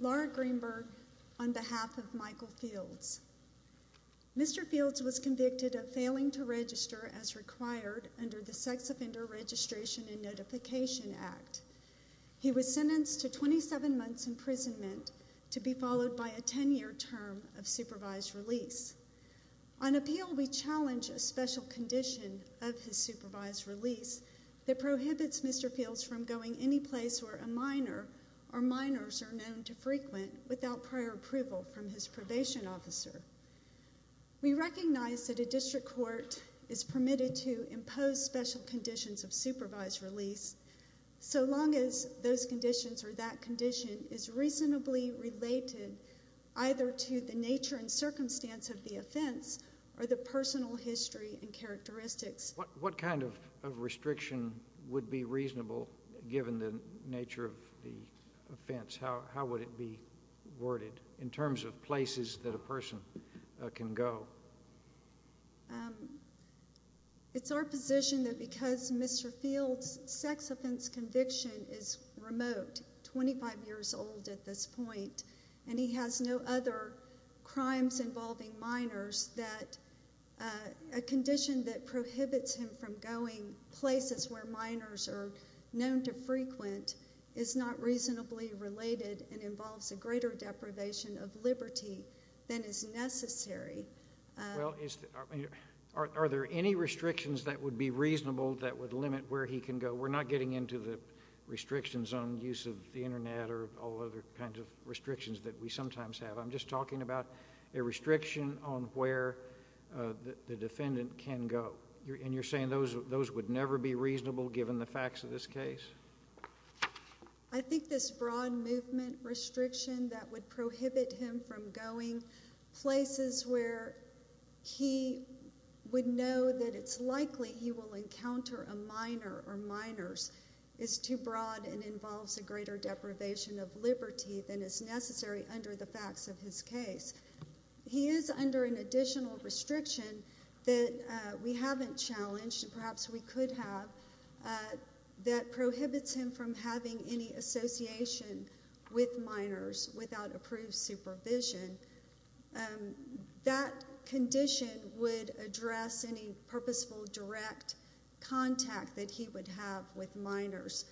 Laura Greenberg on behalf of Michael Fields. Mr. Fields was convicted of failing to register as required under the Sex Offender Registration and Notification Act. He was sentenced to 27 months imprisonment to be followed by a 10-year term of supervised release. On appeal, we challenge a special condition of his supervised release that prohibits Mr. Fields from going any place where a minor or minors are known to frequent without prior approval from his probation officer. We recognize that a district court is permitted to impose special conditions of supervised release so long as those conditions or that condition is reasonably related either to the nature and circumstance of the offense or the personal history and characteristics. What kind of restriction would be reasonable given the nature of the offense? How would it be worded in terms of places that a person can go? It's our position that because Mr. Fields' sex offense conviction is remote, 25 years old at this point, and he has no other crimes involving minors, that a condition that prohibits him from going places where minors are known to frequent is not reasonably related and involves a greater deprivation of liberty than is necessary. Are there any restrictions that would be reasonable that would limit where he can go? We're not getting into the restrictions on use of the Internet or all other kinds of restrictions that we sometimes have. I'm just talking about a restriction on where the defendant can go, and you're saying those would never be reasonable given the facts of this case? I think this broad movement restriction that would prohibit him from going places where he would know that it's likely he will encounter a minor or minors is too broad and involves a greater deprivation of liberty than is necessary under the facts of his case. He is under an additional restriction that we haven't challenged, and perhaps we could have, that prohibits him from having any association with minors without approved supervision. That condition would address any purposeful direct contact that he would have with minors,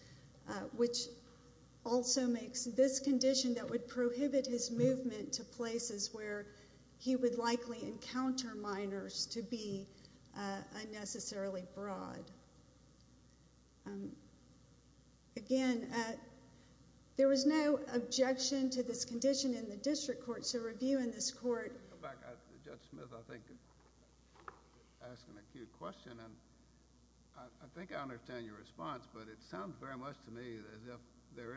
which also makes this condition that would prohibit his movement to places where he would likely encounter minors to be unnecessarily broad. Again, there was no objection to this condition in the district court, so review in this court. Judge Smith, I think you're asking a cute question, and I think I understand your response, but it sounds very much to me as if there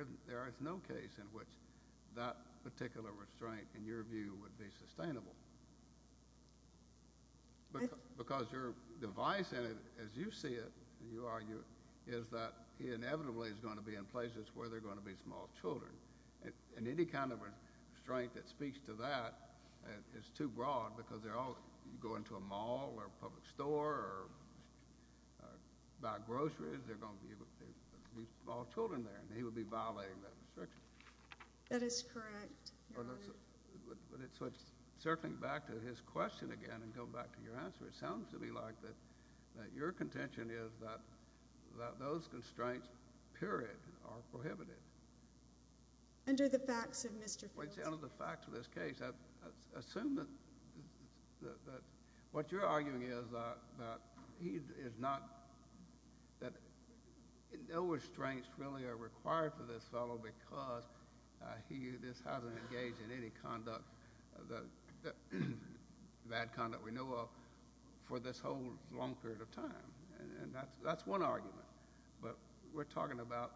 is no case in which that particular restraint, in your view, would be sustainable. Because your device in it, as you see it, you argue, is that he inevitably is going to be in places where there are going to be small children, and any kind of restraint that speaks to that is too broad because they're all going to a mall or a public store or buy groceries. There are going to be small children there, and he would be violating that restriction. That is correct, Your Honor. Circling back to his question again and going back to your answer, it sounds to me like that your contention is that those constraints, period, are prohibited. Under the facts of Mr. Fields. Under the facts of this case. Assume that what you're arguing is that he is not, that no restraints really are required for this fellow because he just hasn't engaged in any conduct, the bad conduct we know of, for this whole long period of time. And that's one argument. But we're talking about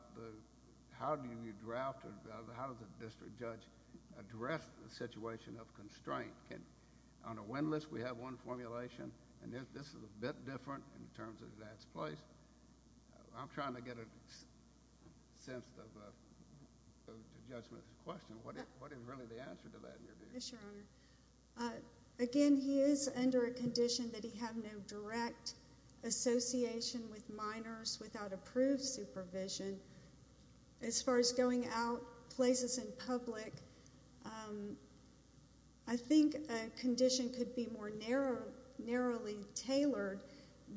how do you draft or how does a district judge address the situation of constraint? On a win list, we have one formulation, and this is a bit different in terms of that place. I'm trying to get a sense of the judgment of the question. What is really the answer to that? Yes, Your Honor. Again, he is under a condition that he have no direct association with minors without approved supervision. As far as going out places in public, I think a condition could be more narrowly tailored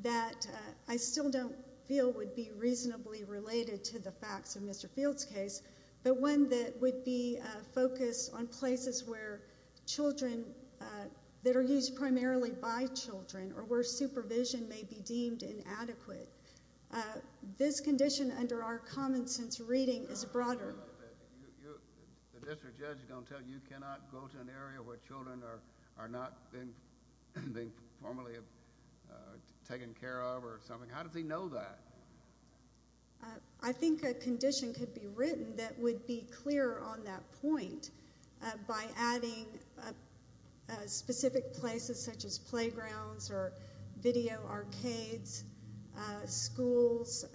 that I still don't feel would be reasonably related to the facts of Mr. Fields' case, but one that would be focused on places where children, that are used primarily by children, or where supervision may be deemed inadequate. This condition, under our common sense reading, is broader. The district judge is going to tell you you cannot go to an area where children are not being formally taken care of or something. How does he know that? I think a condition could be written that would be clearer on that point by adding specific places such as playgrounds or video arcades, schools,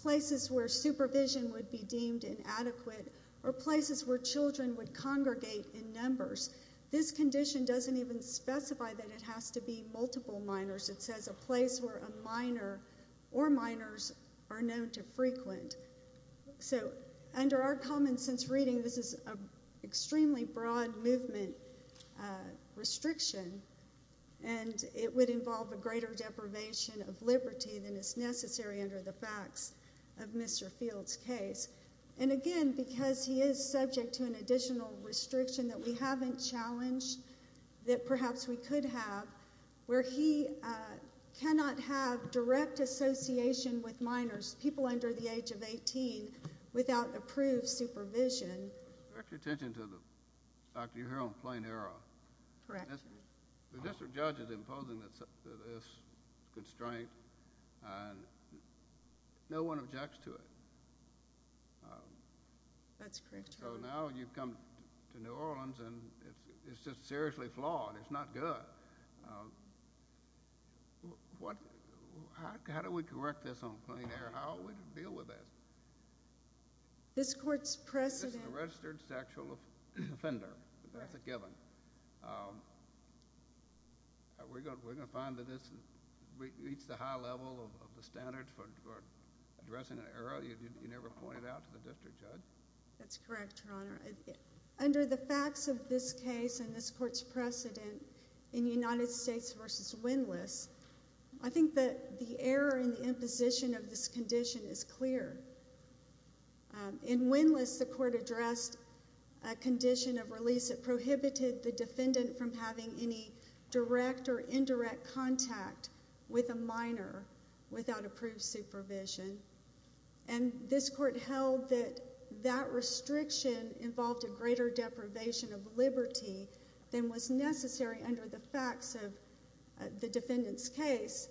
places where supervision would be deemed inadequate, or places where children would congregate in numbers. This condition doesn't even specify that it has to be multiple minors. It says a place where a minor or minors are known to frequent. Under our common sense reading, this is an extremely broad movement restriction, and it would involve a greater deprivation of liberty than is necessary under the facts of Mr. Fields' case. Again, because he is subject to an additional restriction that we haven't challenged, that perhaps we could have, where he cannot have direct association with minors, people under the age of 18, without approved supervision. Pay attention to the fact that you're here on plain error. Correct. The district judge is imposing this constraint, and no one objects to it. That's correct, Your Honor. So now you've come to New Orleans, and it's just seriously flawed. It's not good. How do we correct this on plain error? How are we to deal with this? This court's precedent— This is a registered sexual offender. That's a given. We're going to find that this meets the high level of the standards for addressing an error you never pointed out to the district judge? That's correct, Your Honor. Under the facts of this case and this court's precedent in United States v. Winless, I think that the error in the imposition of this condition is clear. In Winless, the court addressed a condition of release that prohibited the defendant from having any direct or indirect contact with a minor without approved supervision, and this court held that that restriction involved a greater deprivation of liberty than was necessary under the facts of the defendant's case.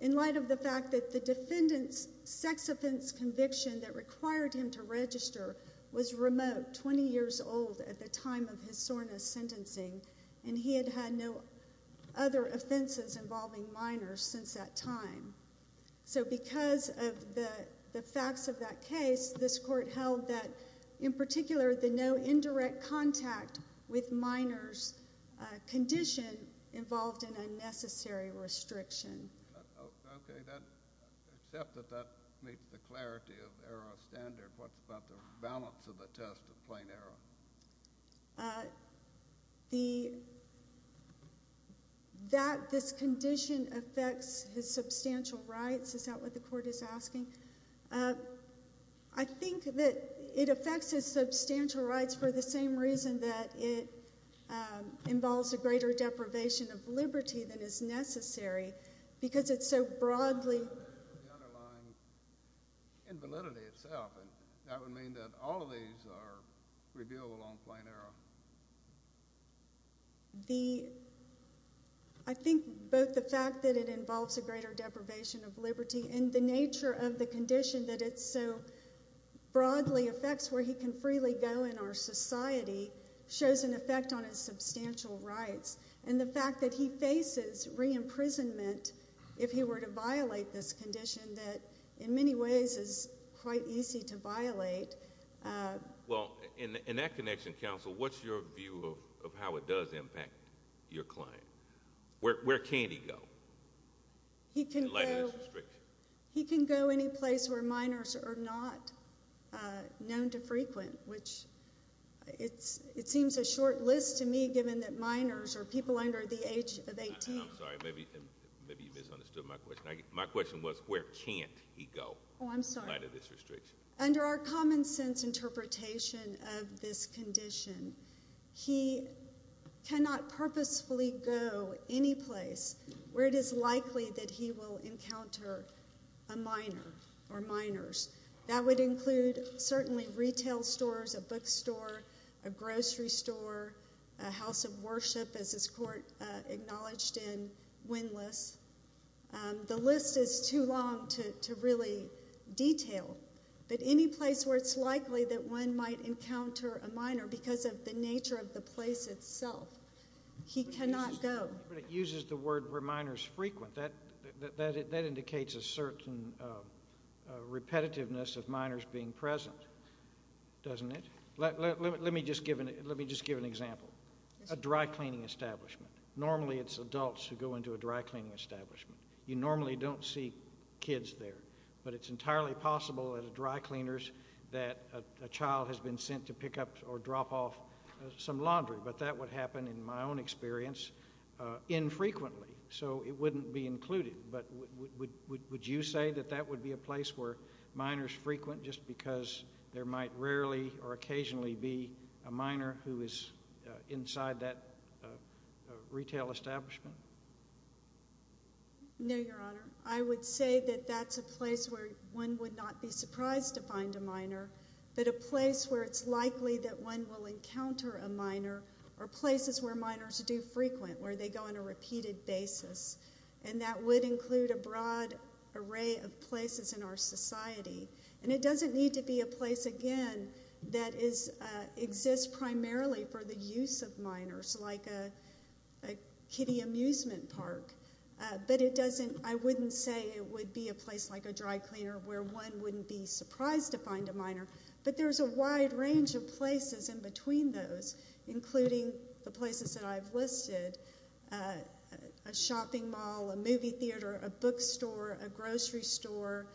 In light of the fact that the defendant's sex offense conviction that required him to register was remote, 20 years old at the time of his soreness sentencing, and he had had no other offenses involving minors since that time. So because of the facts of that case, this court held that, in particular, the no indirect contact with minors condition involved an unnecessary restriction. Okay. Except that that meets the clarity of error of standard, what's about the balance of the test of plain error? That this condition affects his substantial rights, is that what the court is asking? I think that it affects his substantial rights for the same reason that it involves a greater deprivation of liberty than is necessary, because it's so broadly. The underlying invalidity itself, and that would mean that all of these are reviewable on plain error. I think both the fact that it involves a greater deprivation of liberty and the nature of the condition that it so broadly affects where he can freely go in our society shows an effect on his substantial rights, and the fact that he faces re-imprisonment if he were to violate this condition that, in many ways, is quite easy to violate. Well, in that connection, counsel, what's your view of how it does impact your client? Where can he go? He can go any place where minors are not known to frequent, which it seems a short list to me given that minors are people under the age of 18. I'm sorry. Maybe you misunderstood my question. My question was where can't he go in light of this restriction? Oh, I'm sorry. Under our common sense interpretation of this condition, he cannot purposefully go any place where it is likely that he will encounter a minor or minors. That would include certainly retail stores, a bookstore, a grocery store, a house of worship, as this court acknowledged in Wendlass. The list is too long to really detail, but any place where it's likely that one might encounter a minor because of the nature of the place itself, he cannot go. But it uses the word where minors frequent. That indicates a certain repetitiveness of minors being present, doesn't it? Let me just give an example. A dry cleaning establishment. Normally it's adults who go into a dry cleaning establishment. You normally don't see kids there, but it's entirely possible at a dry cleaner's that a child has been sent to pick up or drop off some laundry, but that would happen, in my own experience, infrequently. So it wouldn't be included. But would you say that that would be a place where minors frequent just because there might rarely or occasionally be a minor who is inside that retail establishment? No, Your Honor. I would say that that's a place where one would not be surprised to find a minor, but a place where it's likely that one will encounter a minor or places where minors do frequent, where they go on a repeated basis, and that would include a broad array of places in our society. And it doesn't need to be a place, again, that exists primarily for the use of minors, like a kiddie amusement park, but I wouldn't say it would be a place like a dry cleaner where one wouldn't be surprised to find a minor, but there's a wide range of places in between those, including the places that I've listed, a shopping mall, a movie theater, a bookstore, a grocery store,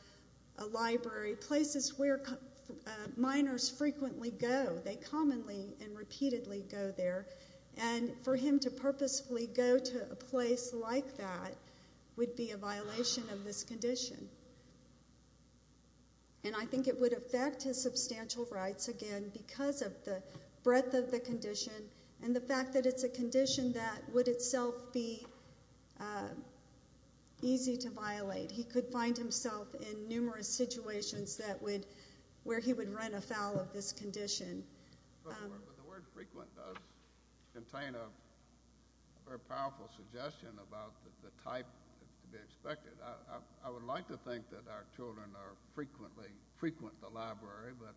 a library, places where minors frequently go. They commonly and repeatedly go there, and for him to purposefully go to a place like that would be a violation of this condition. And I think it would affect his substantial rights, again, because of the breadth of the condition and the fact that it's a condition that would itself be easy to violate. He could find himself in numerous situations where he would run afoul of this condition. But the word frequent does contain a very powerful suggestion about the type to be expected. I would like to think that our children frequent the library, but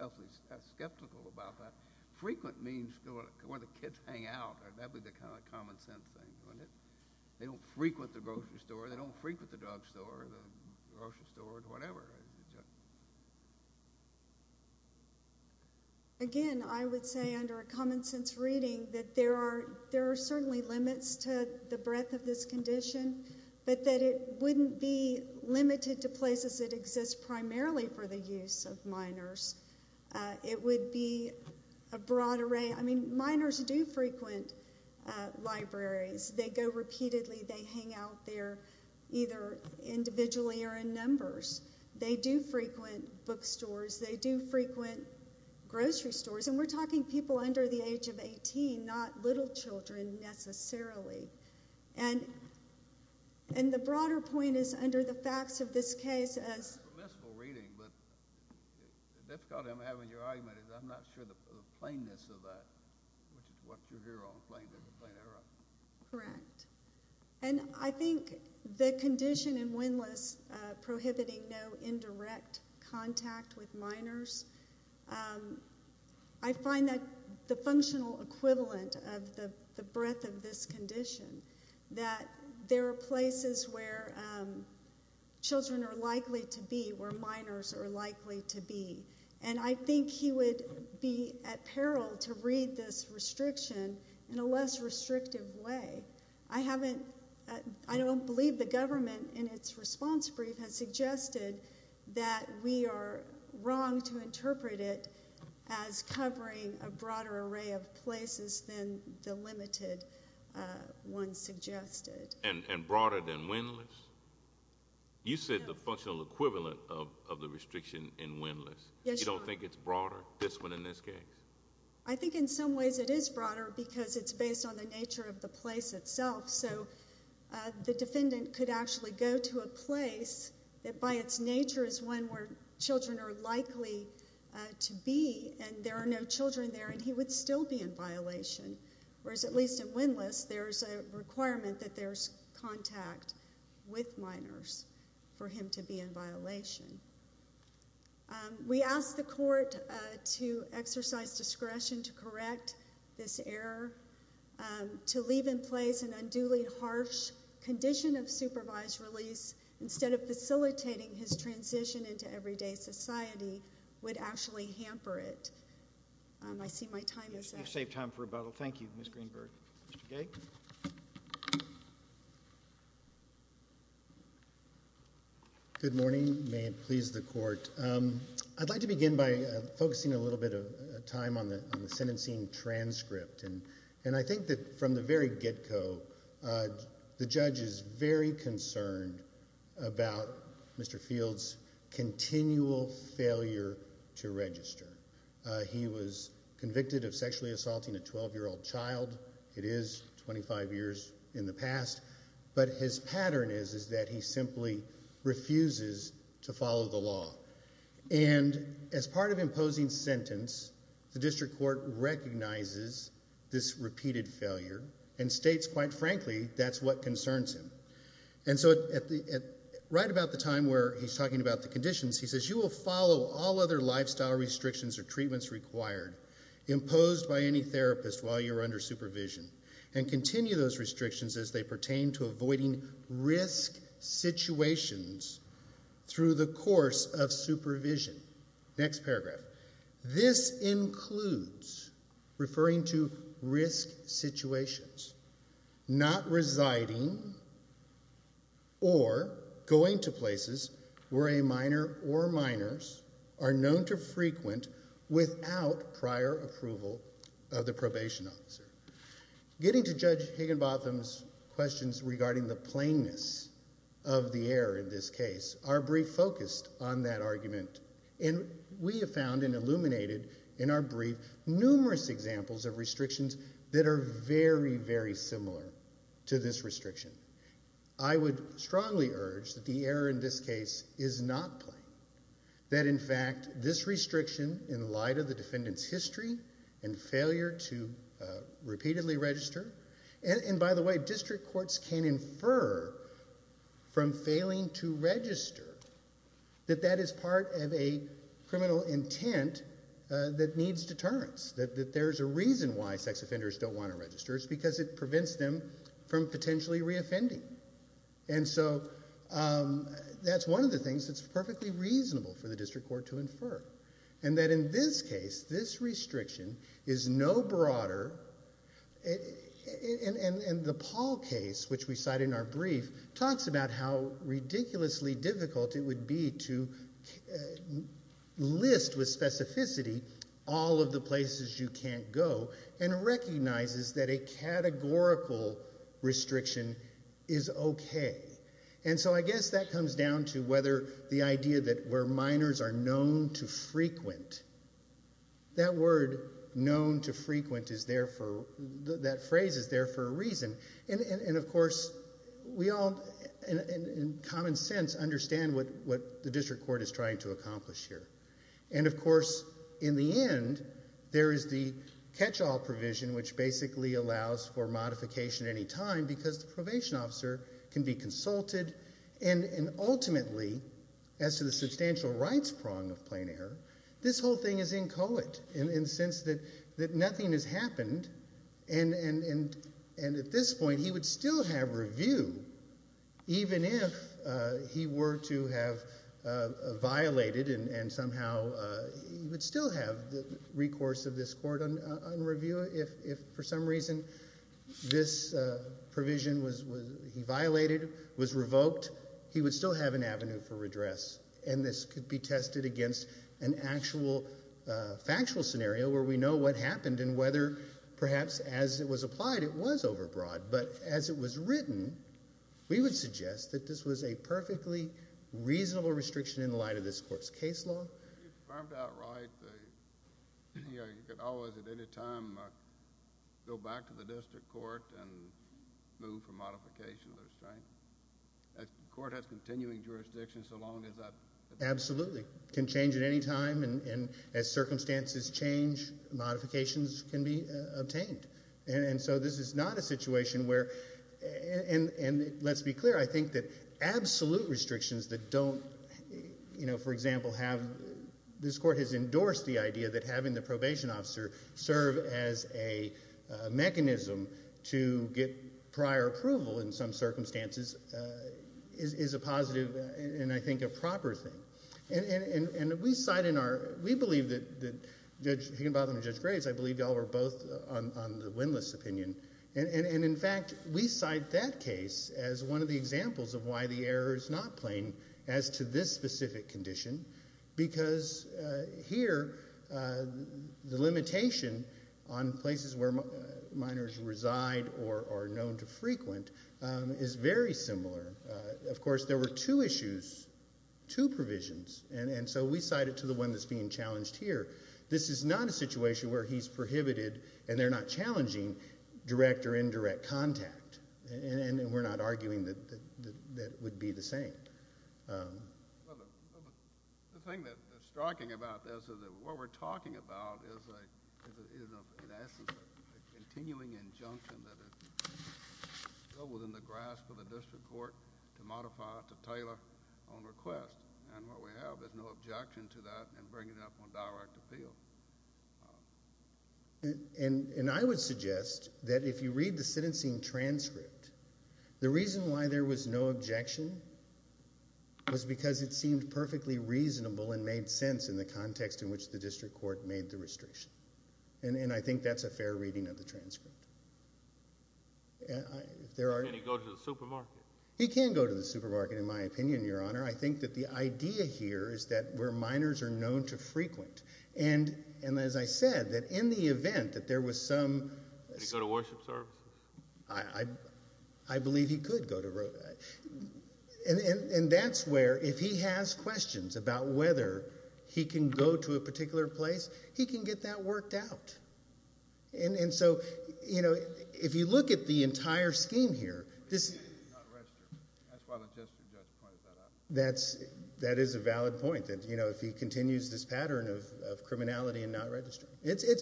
I'm skeptical about that. Frequent means where the kids hang out. That would be the kind of common-sense thing, wouldn't it? They don't frequent the grocery store. They don't frequent the drugstore or the grocery store or whatever. Again, I would say under a common-sense reading that there are certainly limits to the breadth of this condition, but that it wouldn't be limited to places that exist primarily for the use of minors. It would be a broad array. I mean, minors do frequent libraries. They go repeatedly. They hang out there either individually or in numbers. They do frequent bookstores. They do frequent grocery stores. And we're talking people under the age of 18, not little children necessarily. And the broader point is under the facts of this case. It's a permissible reading, but the difficulty I'm having with your argument is I'm not sure the plainness of that, which is what you're here on, plain error. Correct. And I think the condition in Winless prohibiting no indirect contact with minors, I find that the functional equivalent of the breadth of this condition, that there are places where children are likely to be where minors are likely to be. And I think he would be at peril to read this restriction in a less restrictive way. I don't believe the government, in its response brief, has suggested that we are wrong to interpret it as covering a broader array of places than the limited one suggested. And broader than Winless? You said the functional equivalent of the restriction in Winless. You don't think it's broader, this one in this case? I think in some ways it is broader because it's based on the nature of the place itself. So the defendant could actually go to a place that, by its nature, is one where children are likely to be, and there are no children there, and he would still be in violation. Whereas, at least in Winless, there's a requirement that there's contact with minors for him to be in violation. We asked the court to exercise discretion to correct this error. To leave in place an unduly harsh condition of supervised release instead of facilitating his transition into everyday society would actually hamper it. I see my time is up. I've saved time for rebuttal. Thank you, Ms. Greenberg. Mr. Gay? Good morning. May it please the court. I'd like to begin by focusing a little bit of time on the sentencing transcript. And I think that from the very get-go, the judge is very concerned about Mr. Fields' continual failure to register. He was convicted of sexually assaulting a 12-year-old child. It is 25 years in the past. But his pattern is that he simply refuses to follow the law. And as part of imposing sentence, the district court recognizes this repeated failure and states, quite frankly, that's what concerns him. And so right about the time where he's talking about the conditions, he says, you will follow all other lifestyle restrictions or treatments required imposed by any therapist while you're under supervision and continue those restrictions as they pertain to avoiding risk situations through the course of supervision. Next paragraph. This includes referring to risk situations, not residing or going to places where a minor or minors are known to frequent without prior approval of the probation officer. Getting to Judge Higginbotham's questions regarding the plainness of the error in this case, our brief focused on that argument. And we have found and illuminated in our brief numerous examples of restrictions that are very, very similar to this restriction. I would strongly urge that the error in this case is not plain, that, in fact, this restriction in light of the defendant's history and failure to repeatedly register, and by the way, district courts can infer from failing to register that that is part of a criminal intent that needs deterrence, that there's a reason why sex offenders don't want to register. It's because it prevents them from potentially reoffending. And so that's one of the things that's perfectly reasonable for the district court to infer, and that in this case, this restriction is no broader. And the Paul case, which we cite in our brief, talks about how ridiculously difficult it would be to list with specificity all of the places you can't go and recognizes that a categorical restriction is okay. And so I guess that comes down to whether the idea that where minors are known to frequent, that phrase is there for a reason. And, of course, we all, in common sense, understand what the district court is trying to accomplish here. And, of course, in the end, there is the catch-all provision, which basically allows for modification any time because the probation officer can be consulted. And ultimately, as to the substantial rights prong of plain error, this whole thing is inchoate in the sense that nothing has happened, and at this point he would still have review even if he were to have violated and somehow he would still have the recourse of this court on review. If, for some reason, this provision he violated was revoked, he would still have an avenue for redress. And this could be tested against an actual factual scenario where we know what happened and whether, perhaps, as it was applied, it was overbroad. But as it was written, we would suggest that this was a perfectly reasonable restriction in light of this court's case law. If it's confirmed outright, you could always, at any time, go back to the district court and move for modification of the restraint. The court has continuing jurisdiction so long as that... Absolutely. It can change at any time, and as circumstances change, modifications can be obtained. And so this is not a situation where... And let's be clear, I think that absolute restrictions that don't... For example, this court has endorsed the idea that having the probation officer serve as a mechanism to get prior approval in some circumstances is a positive and, I think, a proper thing. And we believe that Judge Higginbotham and Judge Graves, I believe y'all were both on the windlass opinion, and, in fact, we cite that case as one of the examples of why the error is not plain as to this specific condition, because here the limitation on places where minors reside or are known to frequent is very similar. Of course, there were two issues, two provisions, and so we cite it to the one that's being challenged here. This is not a situation where he's prohibited, and they're not challenging, direct or indirect contact. And we're not arguing that it would be the same. The thing that's striking about this is that what we're talking about is, in essence, a continuing injunction that is still within the grasp of the district court to modify, to tailor on request. And what we have is no objection to that and bring it up on direct appeal. And I would suggest that if you read the sentencing transcript, the reason why there was no objection was because it seemed perfectly reasonable and made sense in the context in which the district court made the restriction. And I think that's a fair reading of the transcript. Can he go to the supermarket? He can go to the supermarket, in my opinion, Your Honor. I think that the idea here is that where minors are known to frequent. And as I said, that in the event that there was some... Can he go to worship services? I believe he could go to... And that's where, if he has questions about whether he can go to a particular place, he can get that worked out. And so, you know, if you look at the entire scheme here... That's why the district judge pointed that out. That is a valid point, that, you know, if he continues this pattern of criminality and not registering. It's... The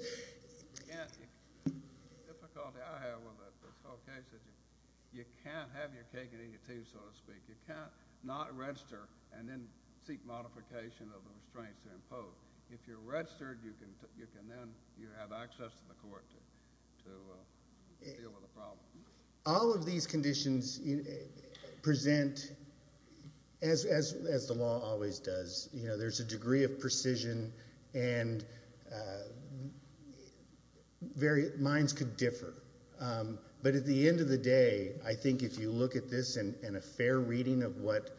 difficulty I have with this whole case is you can't have your cake and eat it too, so to speak. You can't not register and then seek modification of the restraints to impose. If you're registered, you can then have access to the court to deal with the problem. All of these conditions present, as the law always does, you know, there's a degree of precision and very... Minds could differ. But at the end of the day, I think if you look at this and a fair reading of what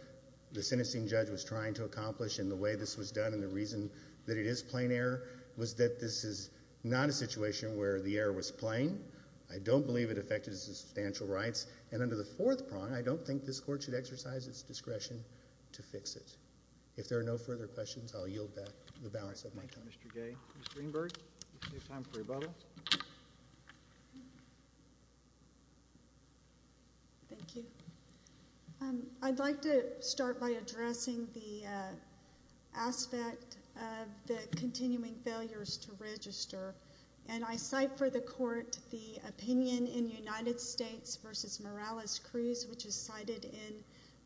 the sentencing judge was trying to accomplish and the way this was done and the reason that it is plain error was that this is not a situation where the error was plain. I don't believe it affected his substantial rights. And under the fourth prong, I don't think this court should exercise its discretion to fix it. If there are no further questions, I'll yield back the balance of my time. Thank you, Mr. Gay. Ms. Greenberg, you have time for rebuttal. Thank you. I'd like to start by addressing the aspect of the continuing failures to register. And I cite for the court the opinion in United States v. Morales-Cruz, which is cited in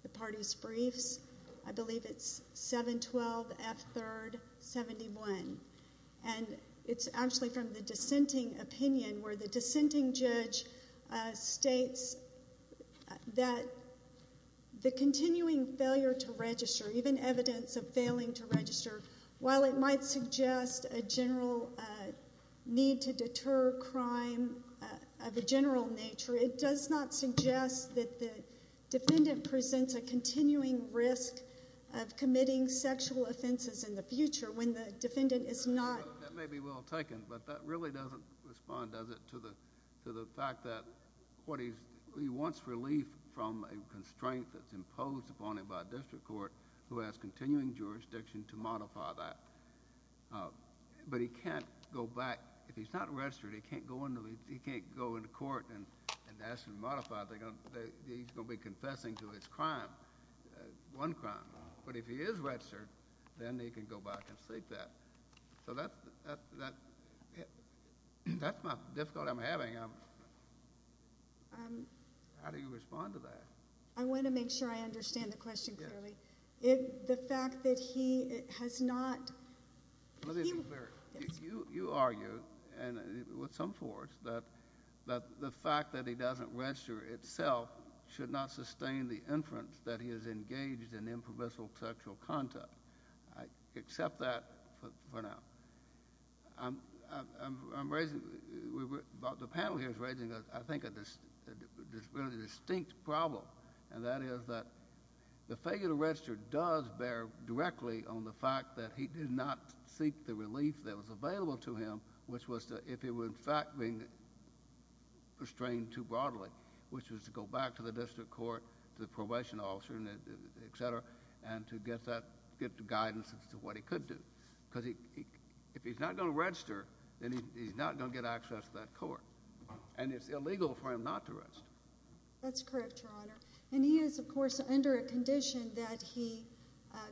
the party's briefs. I believe it's 712 F. 3rd 71. And it's actually from the dissenting opinion where the dissenting judge states even evidence of failing to register, while it might suggest a general need to deter crime of a general nature, it does not suggest that the defendant presents a continuing risk of committing sexual offenses in the future when the defendant is not. That may be well taken, but that really doesn't respond, does it, to the fact that he wants relief from a constraint that's imposed upon him by a district court who has continuing jurisdiction to modify that. But he can't go back. If he's not registered, he can't go into court and ask to modify it. He's going to be confessing to his crime, one crime. But if he is registered, then he can go back and state that. So that's my difficulty I'm having. How do you respond to that? I want to make sure I understand the question clearly. The fact that he has not... Let me be clear. You argue, with some force, that the fact that he doesn't register itself should not sustain the inference that he is engaged in impermissible sexual conduct. I accept that for now. I'm raising... And that is that the failure to register does bear directly on the fact that he did not seek the relief that was available to him, which was if he were, in fact, being restrained too broadly, which was to go back to the district court, to the probation officer, et cetera, and to get guidance as to what he could do. Because if he's not going to register, then he's not going to get access to that court. And it's illegal for him not to register. That's correct, Your Honour. And he is, of course, under a condition that he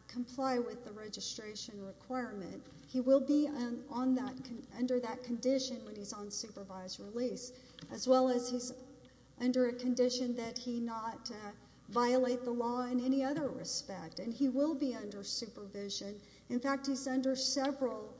comply with the registration requirement. He will be under that condition when he's on supervised release, as well as he's under a condition that he not violate the law in any other respect. And he will be under supervision. In fact, he's under several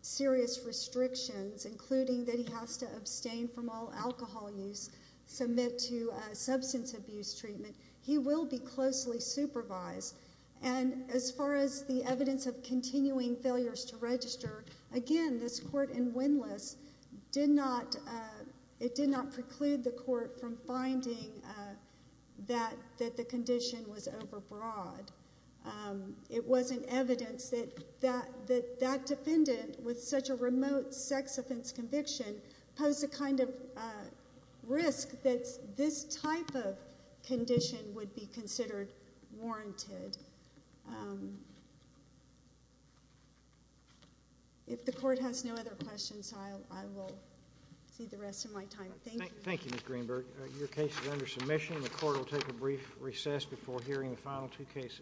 serious restrictions, including that he has to abstain from all alcohol use, submit to substance abuse treatment. He will be closely supervised. And as far as the evidence of continuing failures to register, again, this court in Wendlass did not... It did not preclude the court from finding that the condition was overbroad. It wasn't evidence that that defendant, with such a remote sex offense conviction, posed the kind of risk that this type of condition would be considered warranted. If the court has no other questions, I will see the rest of my time. Thank you. Thank you, Ms. Greenberg. Your case is under submission. The court will take a brief recess before hearing the final two cases.